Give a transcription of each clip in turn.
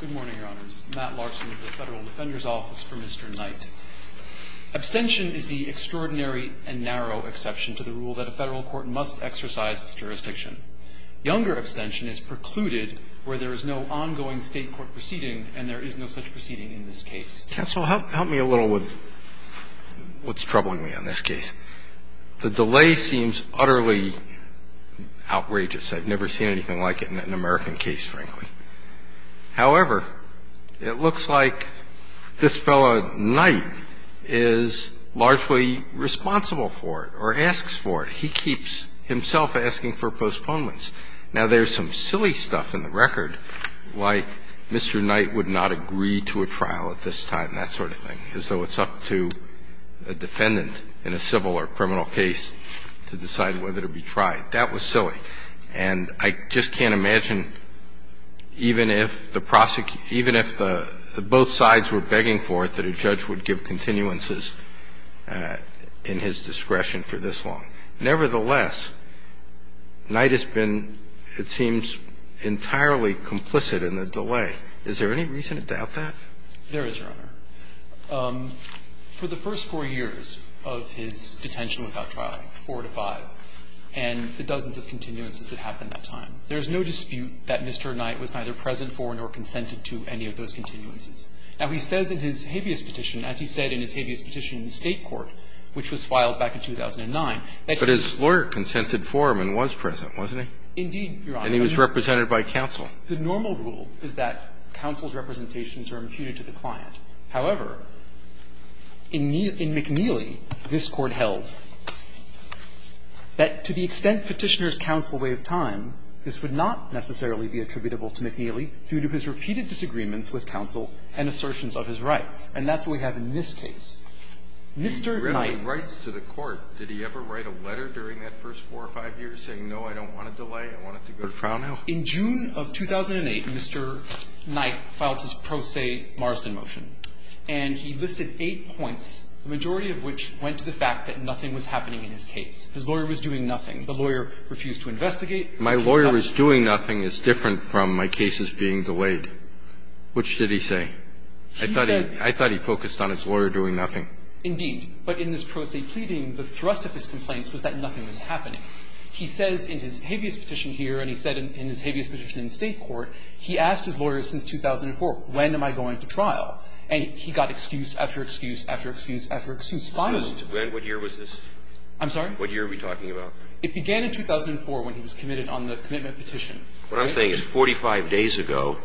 Good morning, Your Honors. Matt Larson with the Federal Defender's Office for Mr. Knight. Abstention is the extraordinary and narrow exception to the rule that a federal court must exercise its jurisdiction. Younger abstention is precluded where there is no ongoing state court proceeding and there is no such proceeding in this case. Counsel, help me a little with what's troubling me on this case. The delay seems utterly outrageous. I've never seen anything like it in an American case, frankly. However, it looks like this fellow Knight is largely responsible for it or asks for it. He keeps himself asking for postponements. Now, there's some silly stuff in the record, like Mr. Knight would not agree to a trial at this time, that sort of thing, as though it's up to a defendant in a civil or criminal case to decide whether to be tried. That was silly. And I just can't imagine even if the prosecutor – even if both sides were begging for it, that a judge would give continuances in his discretion for this long. Nevertheless, Knight has been, it seems, entirely complicit in the delay. Is there any reason to doubt that? There is, Your Honor. For the first four years of his detention without trial, 4 to 5, and the dozens of continuances that happened that time, there is no dispute that Mr. Knight was neither present for nor consented to any of those continuances. Now, he says in his habeas petition, as he said in his habeas petition in the State Court, which was filed back in 2009, that he was present. But his lawyer consented for him and was present, wasn't he? Indeed, Your Honor. And he was represented by counsel. The normal rule is that counsel's representations are imputed to the client. However, in McNeely, this Court held that to the extent Petitioner's counsel waived time, this would not necessarily be attributable to McNeely due to his repeated disagreements with counsel and assertions of his rights. And that's what we have in this case. Mr. Knight – He readily writes to the court. Did he ever write a letter during that first four or five years saying, no, I don't want a delay, I want it to go to trial now? In June of 2008, Mr. Knight filed his pro se Marsden motion. And he listed eight points, the majority of which went to the fact that nothing was happening in his case. His lawyer was doing nothing. The lawyer refused to investigate. My lawyer was doing nothing is different from my cases being delayed. Which did he say? I thought he – I thought he focused on his lawyer doing nothing. Indeed. But in this pro se pleading, the thrust of his complaints was that nothing was happening. He says in his habeas petition here, and he said in his habeas petition in the State court, he asked his lawyer since 2004, when am I going to trial? And he got excuse after excuse after excuse after excuse. Finally – When? What year was this? I'm sorry? What year are we talking about? It began in 2004 when he was committed on the commitment petition. What I'm saying is 45 days ago,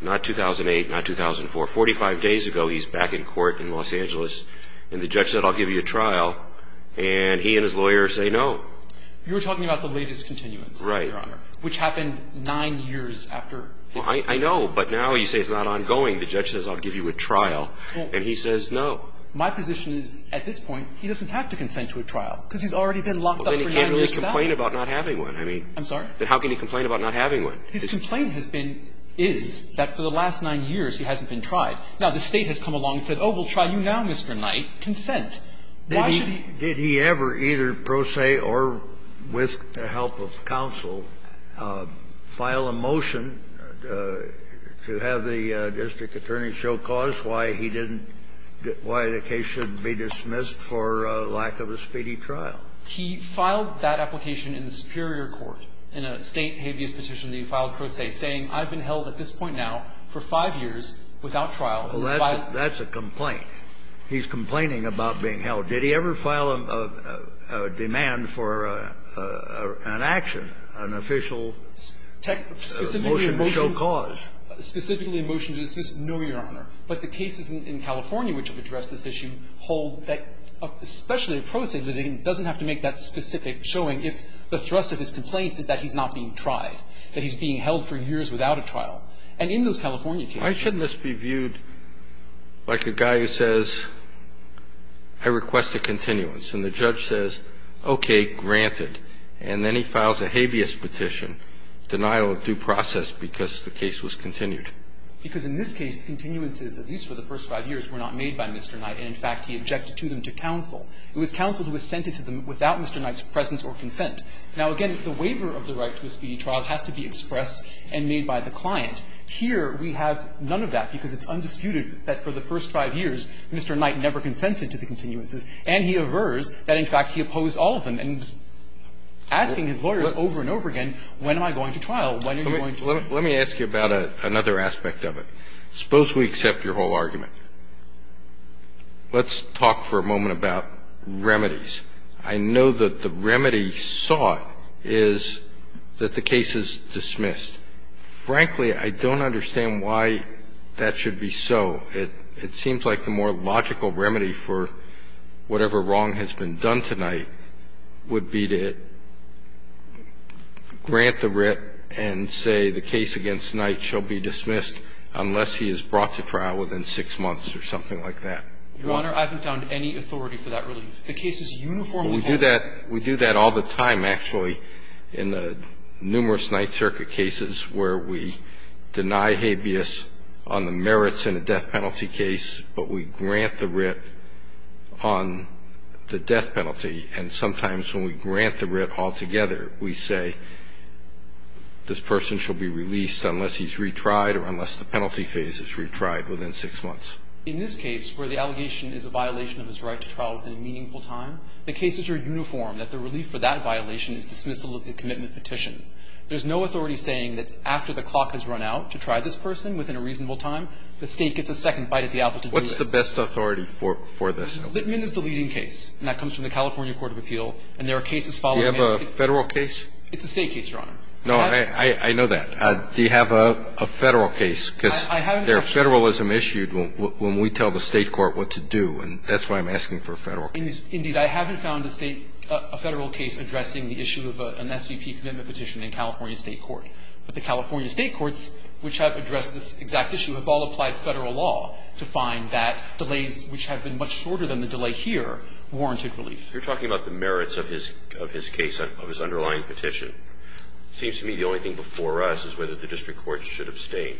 not 2008, not 2004, 45 days ago, he's back in court in Los Angeles, and the judge said, I'll give you a trial, and he and his lawyer say no. You're talking about the latest continuance, Your Honor. Right. Which happened nine years after his – I know, but now you say it's not ongoing. The judge says, I'll give you a trial, and he says no. My position is at this point, he doesn't have to consent to a trial because he's already been locked up for nine years. Well, then he can't really complain about not having one. I mean – I'm sorry? Then how can he complain about not having one? His complaint has been – is that for the last nine years, he hasn't been tried. Now, the State has come along and said, oh, we'll try you now, Mr. Knight. Consent. Why should he – Did he ever either pro se or with the help of counsel file a motion to have the district attorney show cause why he didn't – why the case shouldn't be dismissed for lack of a speedy trial? He filed that application in the superior court in a State habeas petition that he filed pro se, saying I've been held at this point now for five years without trial. That's a complaint. He's complaining about being held. Did he ever file a demand for an action, an official motion to show cause? Specifically a motion to dismiss? No, Your Honor. But the cases in California which have addressed this issue hold that especially a pro se litigant doesn't have to make that specific showing if the thrust of his complaint is that he's not being tried, that he's being held for years without a trial. And in those California cases – Why shouldn't this be viewed like a guy who says, I request a continuance. And the judge says, okay, granted. And then he files a habeas petition, denial of due process, because the case was continued. Because in this case the continuances, at least for the first five years, were not made by Mr. Knight. And, in fact, he objected to them to counsel. It was counsel who sent it to them without Mr. Knight's presence or consent. Now, again, the waiver of the right to a speedy trial has to be expressed and made by the client. Here we have none of that, because it's undisputed that for the first five years Mr. Knight never consented to the continuances. And he avers that, in fact, he opposed all of them. And he's asking his lawyers over and over again, when am I going to trial? When are you going to trial? Let me ask you about another aspect of it. Suppose we accept your whole argument. Let's talk for a moment about remedies. I know that the remedy sought is that the case is dismissed. Frankly, I don't understand why that should be so. It seems like the more logical remedy for whatever wrong has been done tonight would be to grant the writ and say the case against Knight shall be dismissed unless he is brought to trial within six months or something like that. Your Honor, I haven't found any authority for that relief. The case is uniformly held. Well, we do that all the time, actually, in the numerous Ninth Circuit cases where we deny habeas on the merits in a death penalty case, but we grant the writ on the death penalty. And sometimes when we grant the writ altogether, we say this person shall be released unless he's retried or unless the penalty phase is retried within six months. In this case where the allegation is a violation of his right to trial within a meaningful time, the cases are uniform that the relief for that violation is dismissal of the commitment petition. There's no authority saying that after the clock has run out to try this person within a reasonable time, the State gets a second bite at the apple to do it. What's the best authority for this? Litman is the leading case, and that comes from the California Court of Appeal, and there are cases following that. Do you have a Federal case? It's a State case, Your Honor. No, I know that. Do you have a Federal case? Because there's Federalism issued when we tell the State court what to do, and that's why I'm asking for a Federal case. Indeed. I haven't found a State – a Federal case addressing the issue of an SVP commitment petition in California State court. But the California State courts, which have addressed this exact issue, have all applied Federal law to find that delays, which have been much shorter than the delay here, warranted relief. You're talking about the merits of his case, of his underlying petition. It seems to me the only thing before us is whether the district courts should abstain.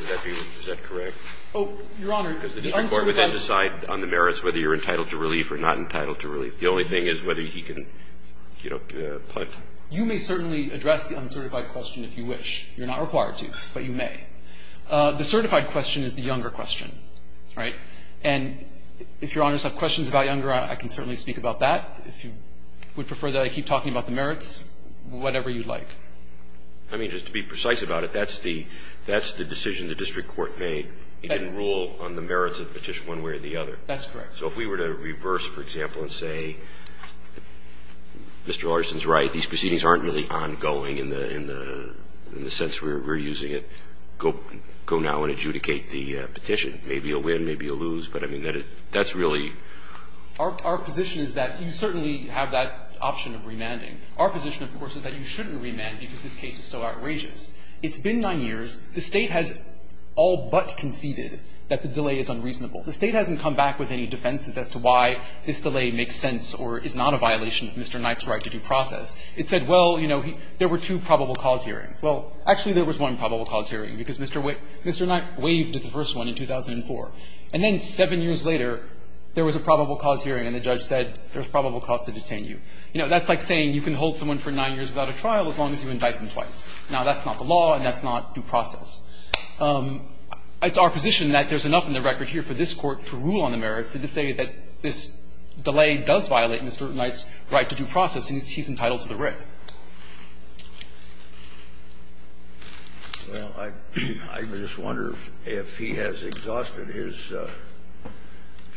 Would that be – is that correct? Oh, Your Honor. Because the district court would then decide on the merits whether you're entitled to relief or not entitled to relief. The only thing is whether he can, you know, pledge. You may certainly address the uncertified question if you wish. You're not required to, but you may. The certified question is the younger question, right? And if Your Honors have questions about younger, I can certainly speak about that. If you would prefer that I keep talking about the merits, whatever you'd like. I mean, just to be precise about it, that's the decision the district court made. It didn't rule on the merits of the petition one way or the other. That's correct. So if we were to reverse, for example, and say, Mr. Larson's right. These proceedings aren't really ongoing in the sense we're using it. Go now and adjudicate the petition. Maybe you'll win, maybe you'll lose, but I mean, that's really – Our position is that you certainly have that option of remanding. Our position, of course, is that you shouldn't remand because this case is so outrageous. It's been nine years. The State has all but conceded that the delay is unreasonable. The State hasn't come back with any defenses as to why this delay makes sense or is not a violation of Mr. Knight's right to due process. It said, well, you know, there were two probable cause hearings. Well, actually, there was one probable cause hearing because Mr. Knight waived the first one in 2004. And then seven years later, there was a probable cause hearing, and the judge said there's probable cause to detain you. You know, that's like saying you can hold someone for nine years without a trial as long as you indict them twice. Now, that's not the law, and that's not due process. It's our position that there's enough in the record here for this Court to rule on the merits and to say that this delay does violate Mr. Knight's right to due process, and he's entitled to the writ. Kennedy, I just wonder if he has exhausted his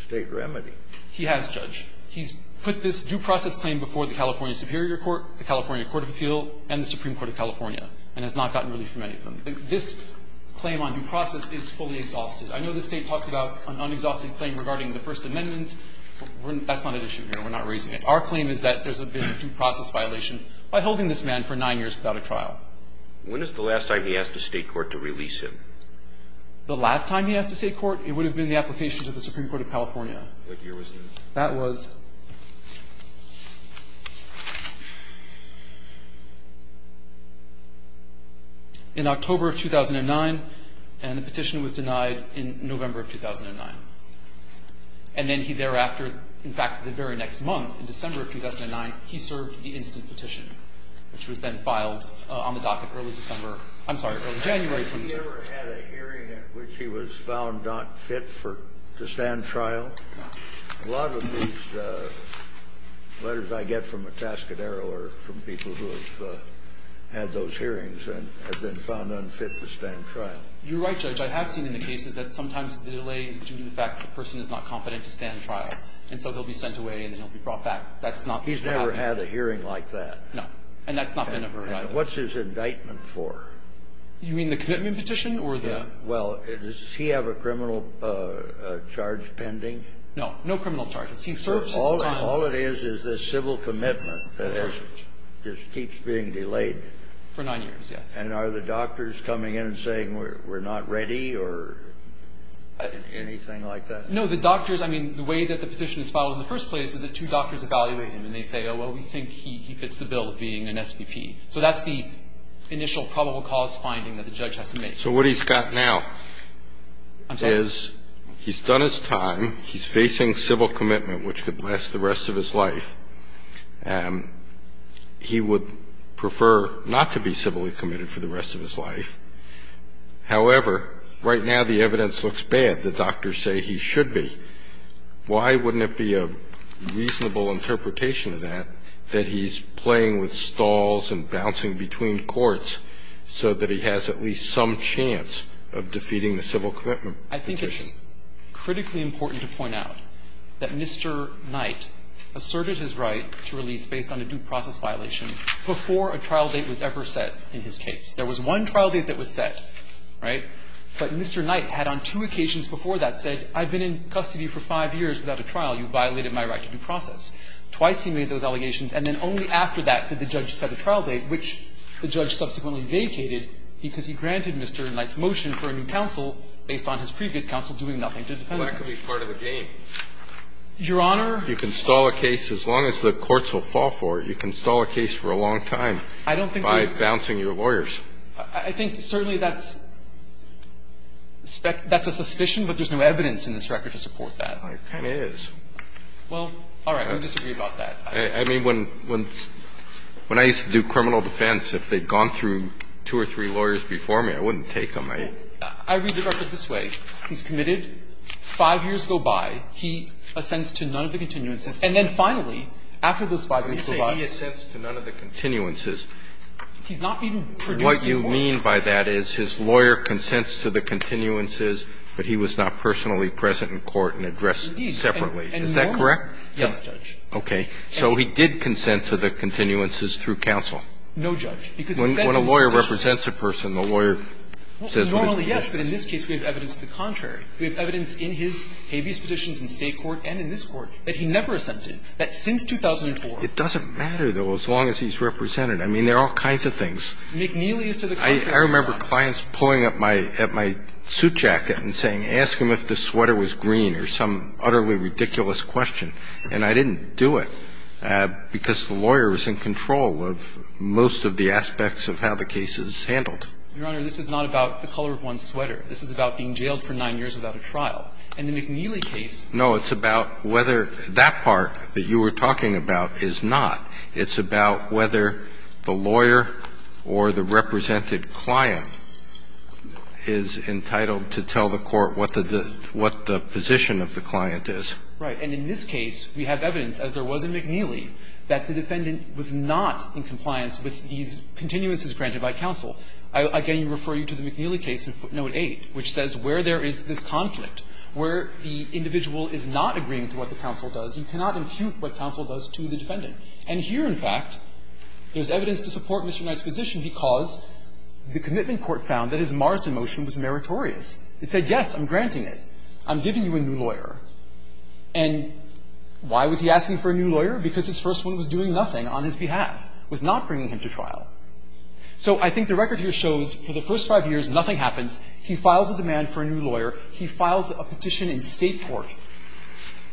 State remedy. He has, Judge. He's put this due process claim before the California Superior Court, the California Court of Appeal, and the Supreme Court of California, and has not gotten relief from any of them. This claim on due process is fully exhausted. I know the State talks about an unexhausted claim regarding the First Amendment. That's not at issue here. We're not raising it. Our claim is that there's been a due process violation by holding this man for nine years without a trial. When is the last time he asked the State court to release him? The last time he asked the State court, it would have been the application to the Supreme Court of California. What year was that? That was in October of 2009, and the petition was denied in November of 2009. And then he thereafter, in fact, the very next month, in December of 2009, he served the instant petition, which was then filed on the docket early December. I'm sorry, early January. Have you ever had a hearing in which he was found not fit for to stand trial? No. A lot of these letters I get from Atascadero are from people who have had those hearings and have been found unfit to stand trial. You're right, Judge. I have seen in the cases that sometimes the delay is due to the fact that the person is not competent to stand trial, and so he'll be sent away and then he'll be brought back. That's not what happened. He's never had a hearing like that. No. And that's not been overriden. And what's his indictment for? You mean the commitment petition or the? Yeah. Well, does he have a criminal charge pending? No. No criminal charges. He serves his time. All it is is this civil commitment that just keeps being delayed. For nine years, yes. And are the doctors coming in and saying we're not ready or anything like that? No, the doctors, I mean, the way that the petition is filed in the first place is that two doctors evaluate him, and they say, oh, well, we think he fits the bill of being an SVP. So that's the initial probable cause finding that the judge has to make. So what he's got now is he's done his time. He's facing civil commitment, which could last the rest of his life. He would prefer not to be civilly committed for the rest of his life. However, right now the evidence looks bad. The doctors say he should be. Why wouldn't it be a reasonable interpretation of that that he's playing with stalls and bouncing between courts so that he has at least some chance of defeating the civil commitment petition? I think it's critically important to point out that Mr. Knight asserted his right to release based on a due process violation before a trial date was ever set in his case. There was one trial date that was set, right? But Mr. Knight had on two occasions before that said I've been in custody for five years without a trial. You violated my right to due process. Twice he made those allegations. And then only after that did the judge set a trial date, which the judge subsequently vacated because he granted Mr. Knight's motion for a new counsel based on his previous counsel doing nothing to defend him. Well, that could be part of the game. Your Honor? You can stall a case as long as the courts will fall for it. You can stall a case for a long time by bouncing your lawyers. I think certainly that's a suspicion, but there's no evidence in this record to support that. There kind of is. Well, all right. We disagree about that. I mean, when I used to do criminal defense, if they'd gone through two or three lawyers before me, I wouldn't take them. I read the record this way. He's committed. Five years go by. He assents to none of the continuances. And then finally, after those five years go by. You say he assents to none of the continuances. He's not even produced any more. What you mean by that is his lawyer consents to the continuances, but he was not personally present in court and addressed separately. Is that correct? Yes, Judge. Okay. So he did consent to the continuances through counsel. No, Judge. When a lawyer represents a person, the lawyer says what he has to say. Normally, yes, but in this case we have evidence to the contrary. We have evidence in his habeas petitions in State court and in this Court that he never assented, that since 2004. It doesn't matter, though, as long as he's represented. I mean, there are all kinds of things. McNeely is to the contrary. I remember clients pulling up my suit jacket and saying, ask him if the sweater was green or some utterly ridiculous question. And I didn't do it because the lawyer was in control of most of the aspects of how the case is handled. Your Honor, this is not about the color of one's sweater. This is about being jailed for nine years without a trial. In the McNeely case. No, it's about whether that part that you were talking about is not. It's about whether the lawyer or the represented client is entitled to tell the court what the position of the client is. Right. And in this case, we have evidence, as there was in McNeely, that the defendant was not in compliance with these continuances granted by counsel. Again, you refer to the McNeely case in footnote 8, which says where there is this conflict, where the individual is not agreeing to what the counsel does, you cannot impute what counsel does to the defendant. And here, in fact, there's evidence to support Mr. Knight's position because the commitment court found that his Marsden motion was meritorious. It said, yes, I'm granting it. I'm giving you a new lawyer. And why was he asking for a new lawyer? Because his first one was doing nothing on his behalf, was not bringing him to trial. So I think the record here shows for the first five years, nothing happens. He files a demand for a new lawyer. He files a petition in State court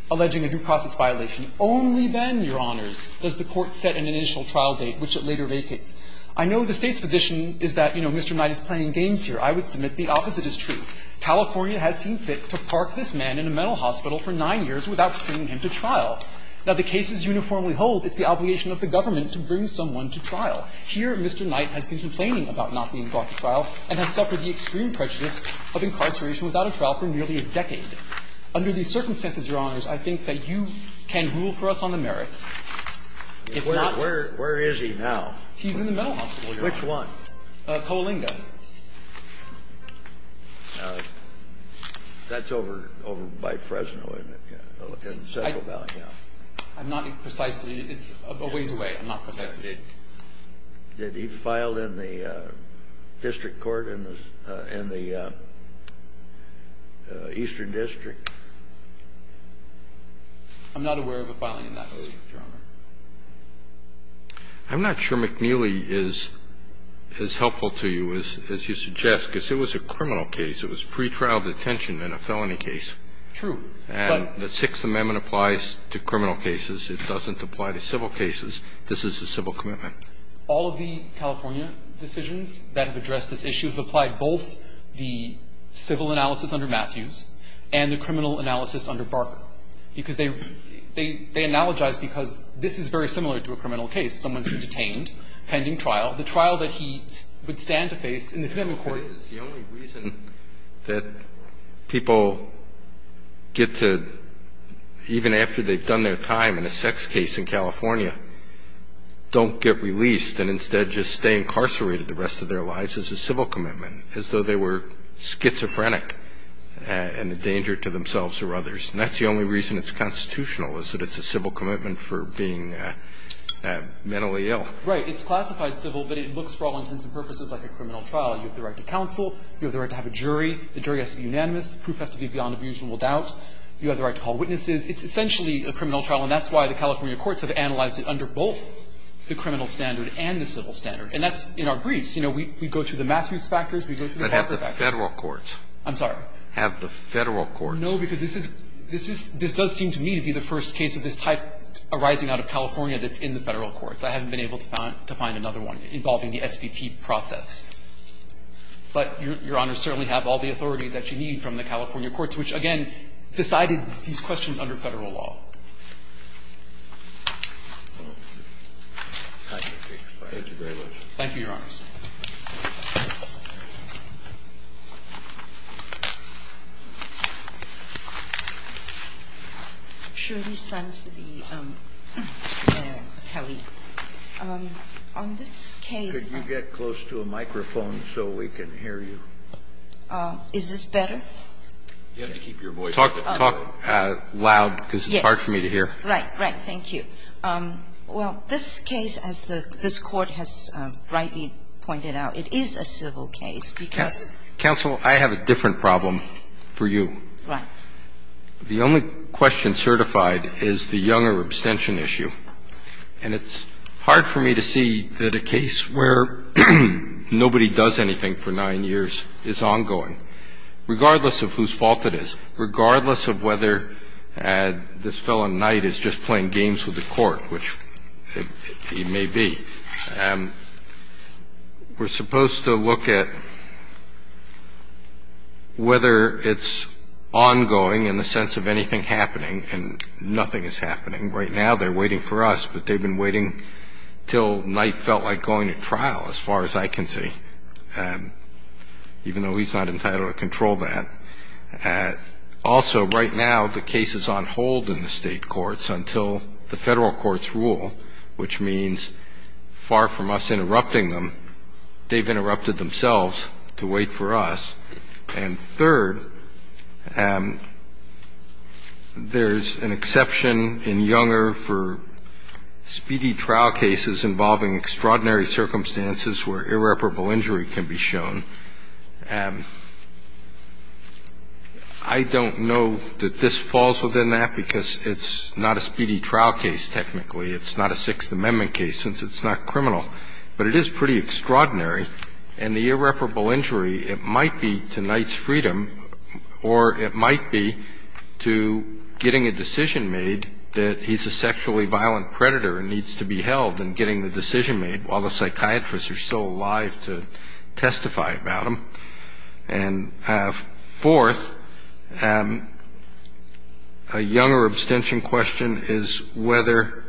alleging a due process violation. Only then, Your Honors, does the court set an initial trial date, which it later vacates. I know the State's position is that, you know, Mr. Knight is playing games here. I would submit the opposite is true. California has seen fit to park this man in a mental hospital for nine years without bringing him to trial. Now, the cases uniformly hold it's the obligation of the government to bring someone to trial. Here, Mr. Knight has been complaining about not being brought to trial and has suffered the extreme prejudice of incarceration without a trial for nearly a decade. Under these circumstances, Your Honors, I think that you can rule for us on the merits. If not for the merits. Where is he now? He's in the mental hospital. Which one? Poalinga. That's over by Fresno, isn't it? I'm not precisely. It's a ways away. I'm not precisely sure. Did he file in the district court in the eastern district? I'm not aware of a filing in that district, Your Honor. I'm not sure McNeely is as helpful to you as you suggest, because it was a criminal case. It was pretrial detention in a felony case. True. And the Sixth Amendment applies to criminal cases. It doesn't apply to civil cases. This is a civil commitment. All of the California decisions that have addressed this issue have applied both the civil analysis under Matthews and the criminal analysis under Barker, because they analogize because this is very similar to a criminal case. Someone's been detained, pending trial. The trial that he would stand to face in the Fifth Amendment court. That is the only reason that people get to, even after they've done their time in a sex case in California, don't get released and instead just stay incarcerated the rest of their lives is a civil commitment, as though they were schizophrenic and a danger to themselves or others. And that's the only reason it's constitutional, is that it's a civil commitment for being mentally ill. Right. It's classified civil, but it looks for all intents and purposes like a criminal trial. You have the right to counsel. You have the right to have a jury. The jury has to be unanimous. The proof has to be beyond abusible doubt. You have the right to call witnesses. It's essentially a criminal trial. And that's why the California courts have analyzed it under both the criminal standard and the civil standard. And that's in our briefs. You know, we go through the Matthews factors. We go through the Barker factors. But have the Federal courts. I'm sorry. Have the Federal courts. No, because this is – this does seem to me to be the first case of this type arising out of California that's in the Federal courts. I haven't been able to find another one involving the SVP process. But Your Honor certainly have all the authority that you need from the California courts, which, again, decided these questions under Federal law. Thank you very much. Thank you, Your Honor. I'm sure he's signed to the appellate. On this case – Could you get close to a microphone so we can hear you? You have to keep your voice down. Talk loud because it's hard for me to hear. Right. Right. Thank you. Well, this case, as this Court has rightly pointed out, it is a civil case because Counsel, I have a different problem for you. Right. The only question certified is the Younger abstention issue. And it's hard for me to see that a case where nobody does anything for nine years is ongoing. Regardless of whose fault it is, regardless of whether this fellow Knight is just playing games with the Court, which he may be, we're supposed to look at whether it's ongoing in the sense of anything happening and nothing is happening. Right now they're waiting for us, but they've been waiting until Knight felt like going to trial as far as I can see. Even though he's not entitled to control that. Also, right now the case is on hold in the State courts until the Federal courts rule, which means far from us interrupting them, they've interrupted themselves to wait for us. And third, there's an exception in Younger for speedy trial cases involving extraordinary circumstances where irreparable injury can be shown. I don't know that this falls within that because it's not a speedy trial case, technically. It's not a Sixth Amendment case since it's not criminal. But it is pretty extraordinary. And the irreparable injury, it might be to Knight's freedom or it might be to getting a decision made that he's a sexually violent predator and needs to be held and getting the decision made while the psychiatrists are still alive to testify about him. And fourth, a Younger abstention question is whether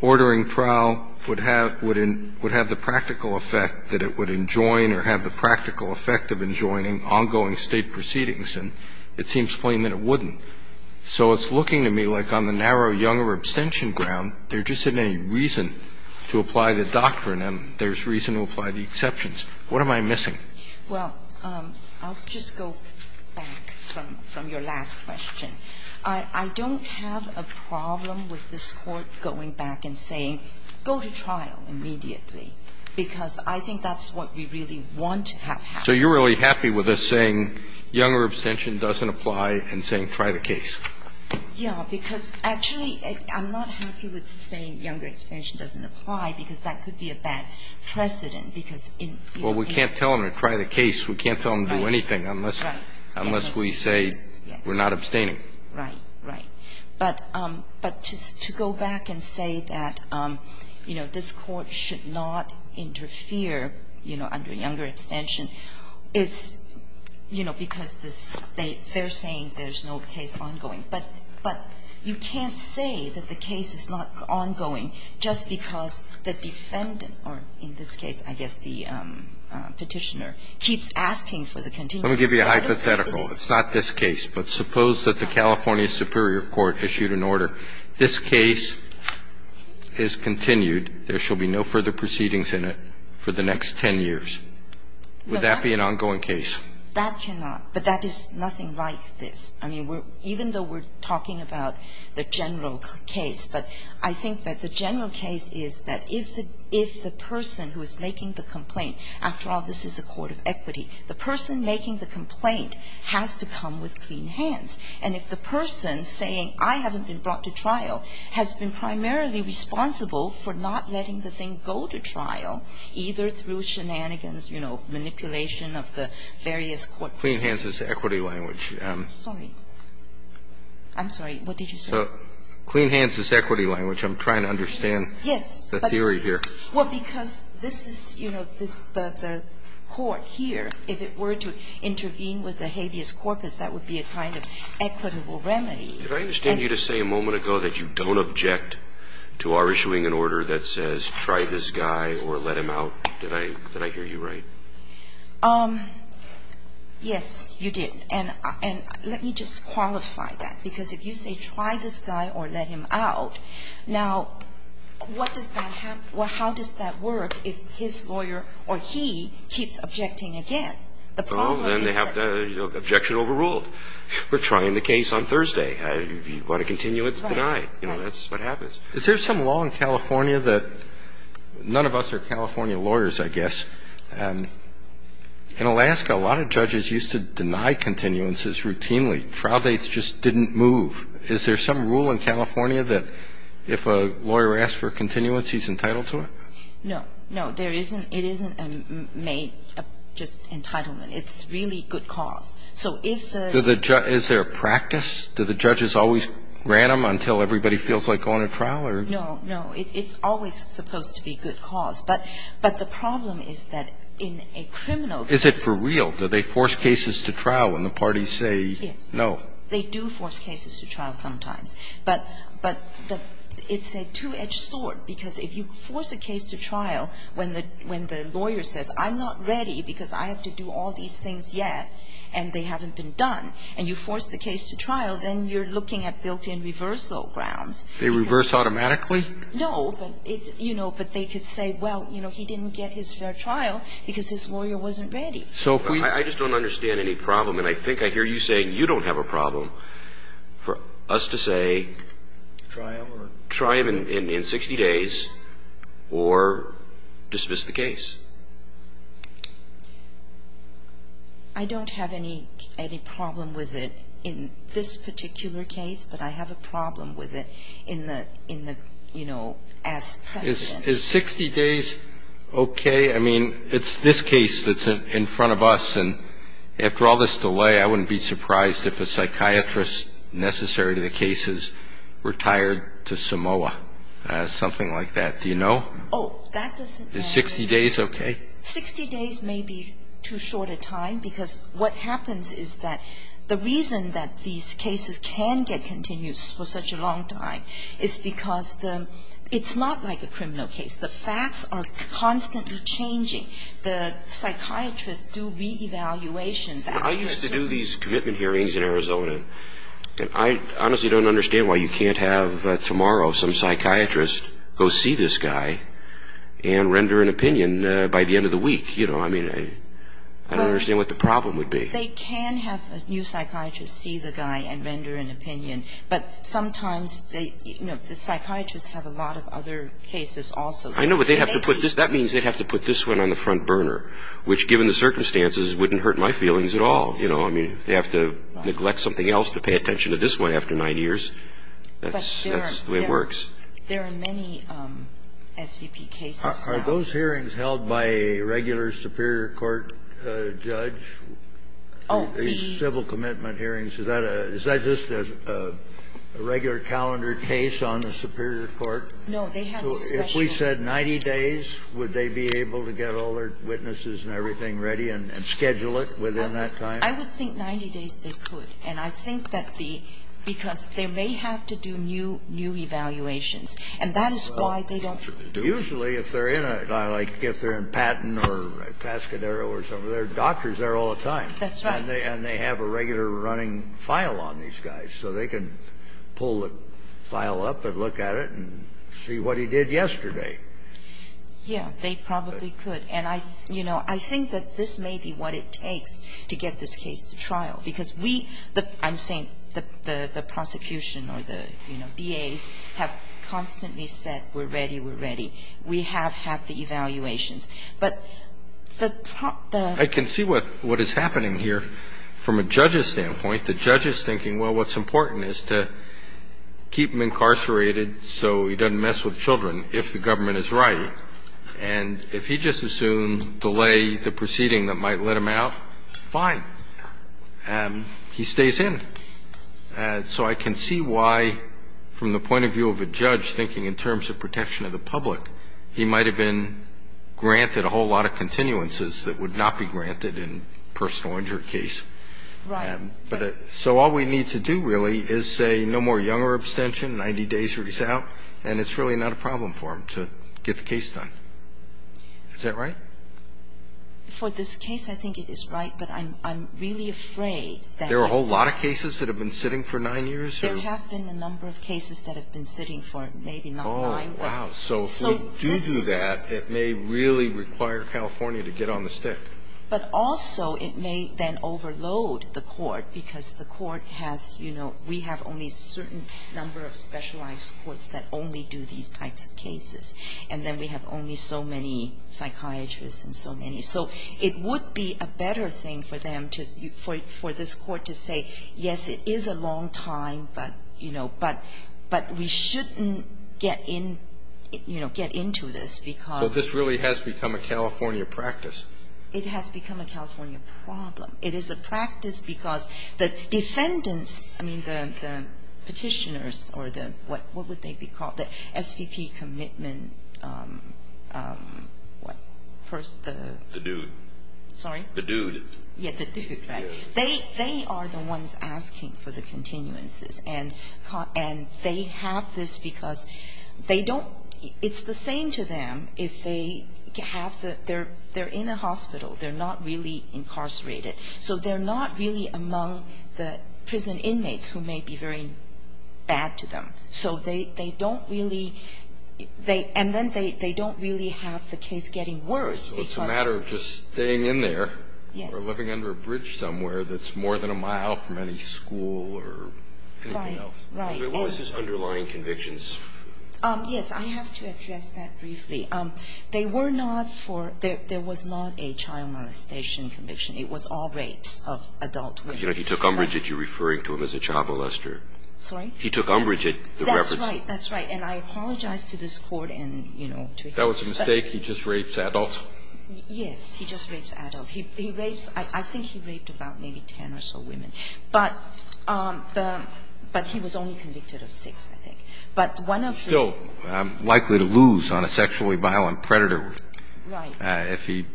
ordering trial would have the practical effect that it would enjoin or have the practical effect of enjoining ongoing State proceedings. And it seems plain that it wouldn't. So it's looking to me like on the narrow Younger abstention ground, there just isn't any reason to apply the doctrine and there's reason to apply the exceptions. What am I missing? Well, I'll just go back from your last question. I don't have a problem with this Court going back and saying, go to trial immediately, because I think that's what we really want to have happen. So you're really happy with us saying Younger abstention doesn't apply and saying try the case? Yeah, because actually, I'm not happy with saying Younger abstention doesn't apply, because that could be a bad precedent, because in your case. Well, we can't tell them to try the case. We can't tell them to do anything unless we say we're not abstaining. Right, right. But to go back and say that, you know, this Court should not interfere, you know, under Younger abstention, is, you know, because they're saying there's no case ongoing. But you can't say that the case is not ongoing just because the defendant or, in this case, I guess the Petitioner, keeps asking for the continuous set of cases. Let me give you a hypothetical. It's not this case, but suppose that the California Superior Court issued an order. This case is continued. There shall be no further proceedings in it for the next 10 years. Would that be an ongoing case? That cannot. But that is nothing like this. I mean, even though we're talking about the general case, but I think that the general case is that if the person who is making the complaint, after all, this is a court of equity, the person making the complaint has to come with clean hands. And if the person saying, I haven't been brought to trial, has been primarily responsible for not letting the thing go to trial, either through shenanigans, you know, manipulation of the various courts. Clean hands is the equity language. I'm sorry. I'm sorry. What did you say? Clean hands is equity language. I'm trying to understand the theory here. Yes. Well, because this is, you know, the court here, if it were to intervene with the habeas corpus, that would be a kind of equitable remedy. Did I understand you to say a moment ago that you don't object to our issuing an order that says try this guy or let him out? Did I hear you right? Yes, you did. And let me just qualify that. Because if you say try this guy or let him out, now, what does that have to do with how does that work if his lawyer or he keeps objecting again? The problem is that the objection overruled. We're trying the case on Thursday. If you want to continue, it's denied. You know, that's what happens. Is there some law in California that none of us are California lawyers, I guess. In Alaska, a lot of judges used to deny continuances routinely. Trial dates just didn't move. Is there some rule in California that if a lawyer asks for a continuance, he's entitled to it? No. No, there isn't. It isn't just entitlement. It's really good cause. So if the judge Is there a practice? Do the judges always grant them until everybody feels like going to trial, or? No. No. It's always supposed to be good cause. But the problem is that in a criminal case Is it for real? Do they force cases to trial when the parties say no? Yes. They do force cases to trial sometimes. But it's a two-edged sword. Because if you force a case to trial when the lawyer says, I'm not ready because I have to do all these things yet and they haven't been done, and you force the case to trial, then you're looking at built-in reversal grounds. They reverse automatically? No, but they could say, well, he didn't get his fair trial because his lawyer wasn't ready. I just don't understand any problem. And I think I hear you saying you don't have a problem for us to say try him in 60 days or dismiss the case. I don't have any problem with it in this particular case, but I have a problem with it in the, you know, as precedent. Is 60 days okay? I mean, it's this case that's in front of us. And after all this delay, I wouldn't be surprised if a psychiatrist necessary to the case is retired to Samoa, something like that. Do you know? Oh, that doesn't matter. Is 60 days okay? 60 days may be too short a time because what happens is that the reason that these cases can get continued for such a long time is because it's not like a criminal case. The facts are constantly changing. The psychiatrists do re-evaluations. I used to do these commitment hearings in Arizona, and I honestly don't understand why you can't have tomorrow some psychiatrist go see this guy and render an opinion by the end of the week. You know, I mean, I don't understand what the problem would be. They can have a new psychiatrist see the guy and render an opinion, but sometimes they, you know, the psychiatrists have a lot of other cases also. I know, but they have to put this, that means they have to put this one on the front burner, which given the circumstances wouldn't hurt my feelings at all. You know, I mean, they have to neglect something else to pay attention to this one after nine years. That's the way it works. There are many SVP cases now. Are those hearings held by a regular superior court judge? Oh, the civil commitment hearings, is that just a regular calendar case on the superior court? No, they have a special. If we said 90 days, would they be able to get all their witnesses and everything ready and schedule it within that time? I would think 90 days they could. And I think that the, because they may have to do new, new evaluations, and that is why they don't do it. Usually if they're in a, like if they're in Patton or Cascadero or something, there are doctors there all the time. That's right. And they have a regular running file on these guys, so they can pull the file up and look at it and see what he did yesterday. Yeah, they probably could. And I, you know, I think that this may be what it takes to get this case to trial. Because we, the, I'm saying the prosecution or the, you know, DAs have constantly said we're ready, we're ready. We have had the evaluations. But the, the pro, the. I can see what, what is happening here from a judge's standpoint. The judge is thinking, well, what's important is to keep him incarcerated so he doesn't mess with children if the government is right. And if he just assumed delay the proceeding that might let him out, fine. He stays in. So I can see why, from the point of view of a judge, thinking in terms of protection of the public, he might have been granted a whole lot of continuances that would not be granted in a personal injury case. Right. But, so all we need to do really is say no more younger abstention, 90 days, release out, and it's really not a problem for him to get the case done. Is that right? For this case, I think it is right. But I'm, I'm really afraid that. There are a whole lot of cases that have been sitting for nine years? There have been a number of cases that have been sitting for maybe not nine. Oh, wow. So this is. So if we do do that, it may really require California to get on the stick. But also it may then overload the court because the court has, you know, we have only a certain number of specialized courts that only do these types of cases. And then we have only so many psychiatrists and so many. So it would be a better thing for them to, for this court to say, yes, it is a long time, but, you know, but, but we shouldn't get in, you know, get into this because. Well, this really has become a California practice. It has become a California problem. It is a practice because the defendants, I mean, the, the petitioners or the, what, what would they be called? The SVP commitment, what? First the. The dude. Sorry? The dude. Yeah, the dude, right. They, they are the ones asking for the continuances. And, and they have this because they don't, it's the same to them if they have the, they're, they're in a hospital. They're not really incarcerated. So they're not really among the prison inmates who may be very bad to them. So they, they don't really, they, and then they, they don't really have the case getting worse because. So it's a matter of just staying in there. Yes. Or living under a bridge somewhere that's more than a mile from any school or anything else. Right, right. So what was his underlying convictions? Yes, I have to address that briefly. They were not for, there, there was not a child molestation conviction. It was all rapes of adult women. You know, he took umbrage at you referring to him as a child molester. Sorry? He took umbrage at the reference. That's right. That's right. And I apologize to this Court and, you know, to him. That was a mistake. He just rapes adults? Yes. He just rapes adults. He, he rapes, I, I think he raped about maybe ten or so women. But the, but he was only convicted of six, I think. But one of the. He's still likely to lose on a sexually violent predator. Right. If he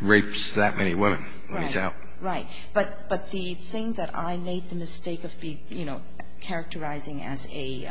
rapes that many women when he's out. Right, right. But, but the thing that I made the mistake of being, you know, characterizing as a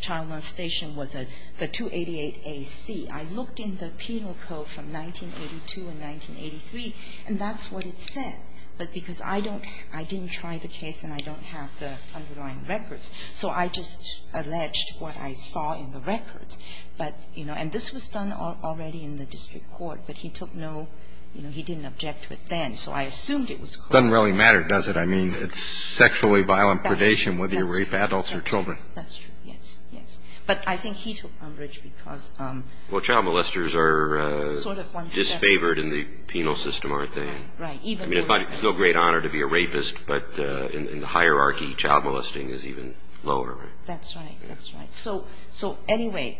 child molestation was the 288AC. I looked in the penal code from 1982 and 1983, and that's what it said. But because I don't, I didn't try the case and I don't have the underlying records, so I just alleged what I saw in the records. But, you know, and this was done already in the district court, but he took no, you know, he didn't object to it then. So I assumed it was. Doesn't really matter, does it? I mean, it's sexually violent predation whether you rape adults or children. That's true. Yes, yes. But I think he took umbrage because. Well, child molesters are. Sort of one step. Disfavored in the penal system, aren't they? Right, even. I mean, it's no great honor to be a rapist, but in the hierarchy, child molesting is even lower, right? That's right. That's right. So, so anyway,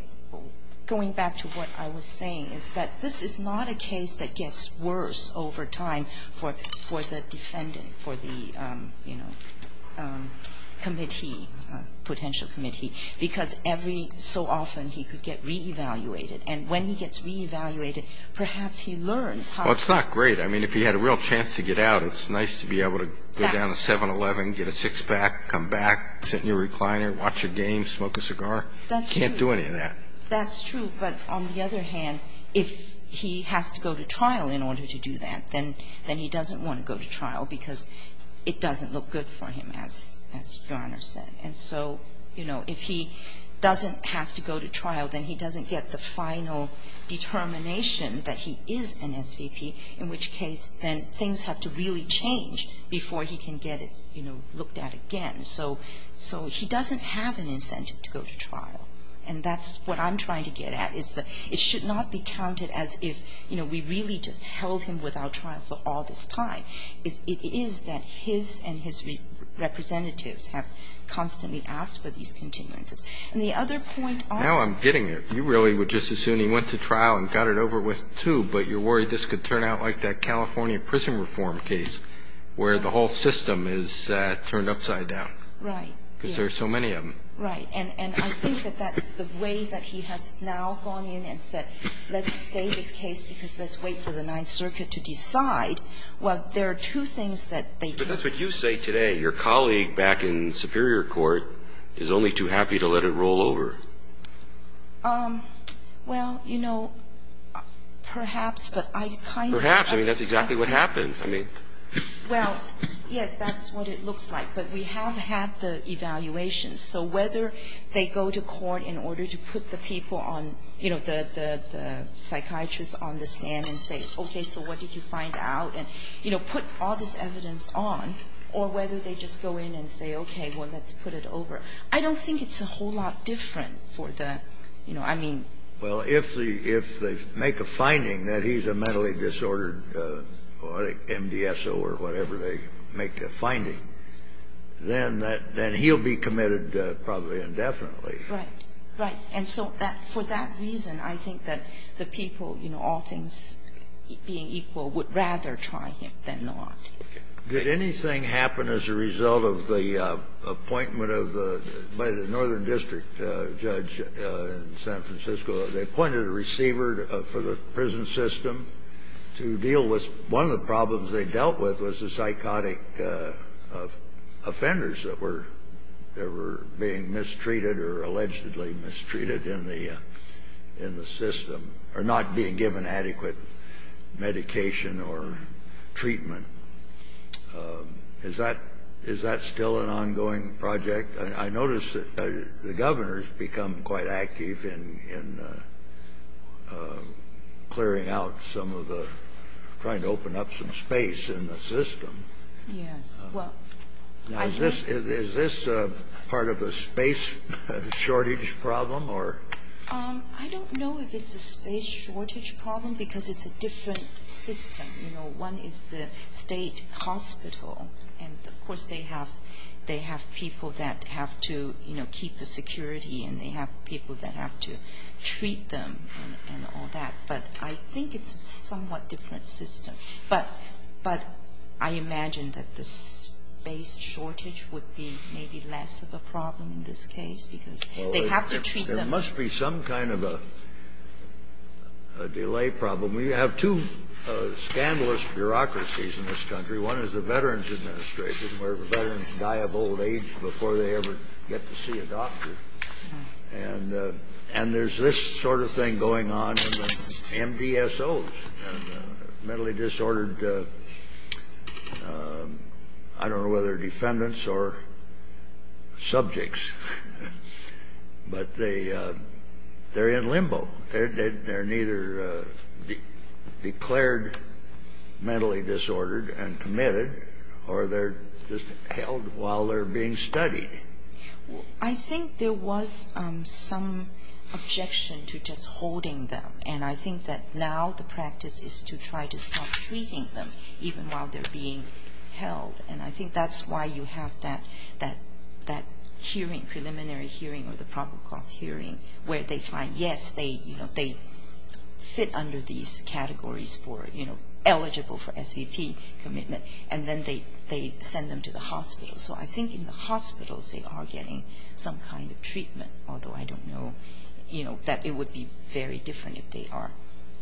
going back to what I was saying is that this is not a case that gets worse over time for the defendant, for the, you know, committee, potential committee, because every so often he could get re-evaluated. And when he gets re-evaluated, perhaps he learns how. Well, it's not great. I mean, if he had a real chance to get out, it's nice to be able to go down to 7-11, get a six-pack, come back, sit in your recliner, watch a game, smoke a cigar. That's true. Can't do any of that. That's true. But on the other hand, if he has to go to trial in order to do that, then he doesn't want to go to trial because it doesn't look good for him, as Your Honor said. And so, you know, if he doesn't have to go to trial, then he doesn't get the final determination that he is an SVP, in which case then things have to really change before he can get, you know, looked at again. So he doesn't have an incentive to go to trial. And that's what I'm trying to get at, is that it should not be counted as if, you know, we really just held him without trial for all this time. It is that his and his representatives have constantly asked for these continuances. And the other point also ---- Now I'm getting it. You really would just assume he went to trial and got it over with, too, but you're worried this could turn out like that California prison reform case where the whole system is turned upside down. Right. Yes. Because there are so many of them. Right. And I think that the way that he has now gone in and said, let's stay in this case because let's wait for the Ninth Circuit to decide, well, there are two things that they can do. But that's what you say today. Your colleague back in Superior Court is only too happy to let it roll over. Well, you know, perhaps, but I kind of ---- Perhaps. I mean, that's exactly what happened. I mean ---- Well, yes, that's what it looks like. But we have had the evaluation. So whether they go to court in order to put the people on, you know, the psychiatrist on the stand and say, okay, so what did you find out, and, you know, put all this evidence on, or whether they just go in and say, okay, well, let's put it over, I don't think it's a whole lot different for the, you know, I mean ---- Well, if they make a finding that he's a mentally disordered MDSO or whatever they make a finding, then that he'll be committed probably indefinitely. Right. Right. And so for that reason, I think that the people, you know, all things being equal, would rather try him than not. Did anything happen as a result of the appointment of the Northern District judge in San Francisco? What they dealt with was the psychotic offenders that were being mistreated or allegedly mistreated in the system, or not being given adequate medication or treatment. Is that still an ongoing project? I notice that the governor's become quite active in clearing out some of the problems, and trying to open up some space in the system. Yes. Well, I think ---- Now, is this a part of a space shortage problem, or ---- I don't know if it's a space shortage problem because it's a different system. You know, one is the state hospital, and, of course, they have people that have to, you know, keep the security, and they have people that have to treat them and all that. But I think it's a somewhat different system. But I imagine that the space shortage would be maybe less of a problem in this case because they have to treat them. There must be some kind of a delay problem. We have two scandalous bureaucracies in this country. One is the Veterans Administration, where veterans die of old age before they ever get to see a doctor. And there's this sort of thing going on in the MDSOs, mentally disordered, I don't know whether defendants or subjects. But they're in limbo. They're neither declared mentally disordered and committed, or they're just held while they're being studied. I think there was some objection to just holding them. And I think that now the practice is to try to stop treating them even while they're being held. And I think that's why you have that hearing, preliminary hearing or the proper cause hearing, where they find, yes, they fit under these categories for, you know, eligible for SVP commitment, and then they send them to the hospital. So I think in the hospitals they are getting some kind of treatment, although I don't know, you know, that it would be very different if they are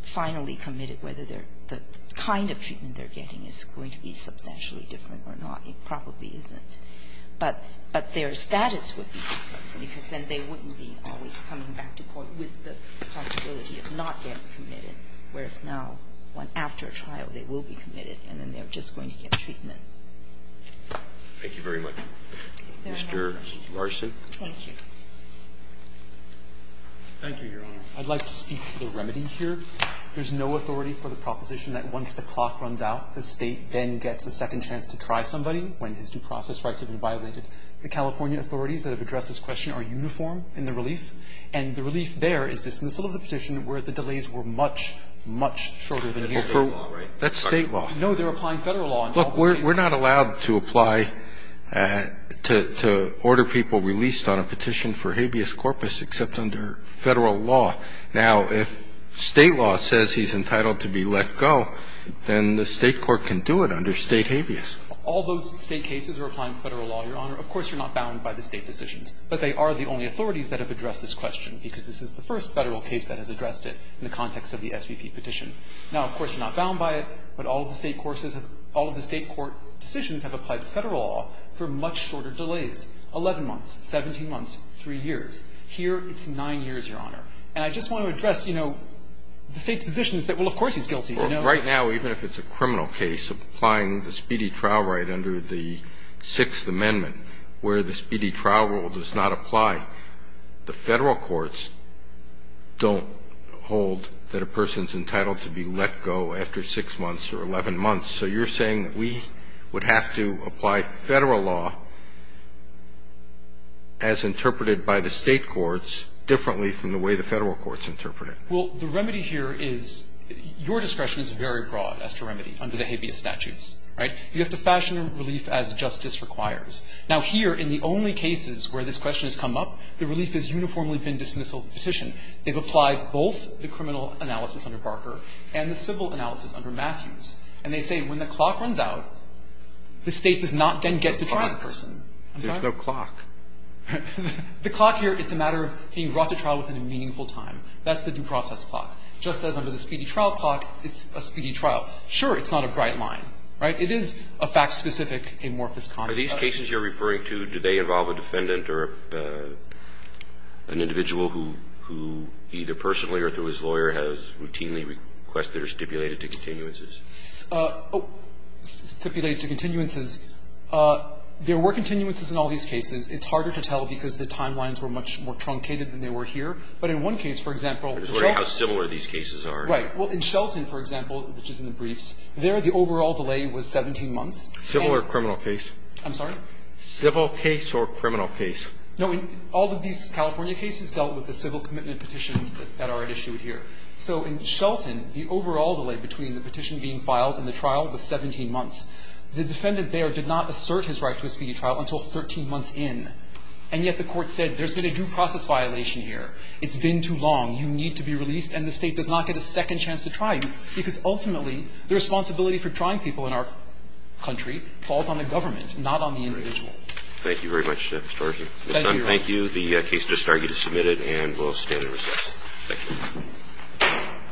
finally committed, whether the kind of treatment they're getting is going to be substantially different or not. It probably isn't. But their status would be different, because then they wouldn't be always coming back to court with the possibility of not getting committed, whereas now, after a trial, they will be committed, and then they're just going to get treatment. Thank you very much. Mr. Larson. Thank you. Thank you, Your Honor. I'd like to speak to the remedy here. There's no authority for the proposition that once the clock runs out, the State then gets a second chance to try somebody when his due process rights have been violated. The California authorities that have addressed this question are uniform in the relief, and the relief there is dismissal of the position where the delays were much, much shorter than usual. That's State law, right? Well, we're not allowed to apply to order people released on a petition for habeas corpus except under Federal law. Now, if State law says he's entitled to be let go, then the State court can do it under State habeas. All those State cases are applying to Federal law, Your Honor. Of course, you're not bound by the State decisions, but they are the only authorities that have addressed this question, because this is the first Federal case that has addressed it in the context of the SVP petition. Now, of course, you're not bound by it, but all of the State courses have – all of the State court decisions have applied to Federal law for much shorter delays, 11 months, 17 months, 3 years. Here, it's 9 years, Your Honor. And I just want to address, you know, the State's position is that, well, of course he's guilty. I know – Well, right now, even if it's a criminal case, applying the speedy trial right under the Sixth Amendment where the speedy trial rule does not apply, the Federal courts don't hold that a person's entitled to be let go after 6 months or 11 months. So you're saying that we would have to apply Federal law as interpreted by the State courts differently from the way the Federal courts interpret it. Well, the remedy here is – your discretion is very broad as to remedy under the habeas statutes, right? You have to fashion relief as justice requires. Now, here, in the only cases where this question has come up, the relief has uniformly been dismissal petition. They've applied both the criminal analysis under Barker and the civil analysis under Matthews. And they say when the clock runs out, the State does not then get to try the person. There's no clock. I'm sorry? There's no clock. The clock here, it's a matter of being brought to trial within a meaningful time. That's the due process clock. Just as under the speedy trial clock, it's a speedy trial. Sure, it's not a bright line, right? It is a fact-specific amorphous conduct. Are these cases you're referring to, do they involve a defendant or an individual who either personally or through his lawyer has routinely requested or stipulated to continuances? Stipulated to continuances. There were continuances in all these cases. It's harder to tell because the timelines were much more truncated than they were here. But in one case, for example – I'm just wondering how similar these cases are. Right. Well, in Shelton, for example, which is in the briefs, there, the overall delay was 17 months. Civil or criminal case? I'm sorry? Civil case or criminal case. No. All of these California cases dealt with the civil commitment petitions that are at issue here. So in Shelton, the overall delay between the petition being filed and the trial was 17 months. The defendant there did not assert his right to a speedy trial until 13 months in. And yet the Court said there's been a due process violation here. It's been too long. You need to be released, and the State does not get a second chance to try you because ultimately the responsibility for trying people in our country falls on the government, not on the individual. Thank you very much, Mr. Argy. Thank you, Your Honor. Mr. Son, thank you. The case just argued is submitted and will stand in recess. Thank you.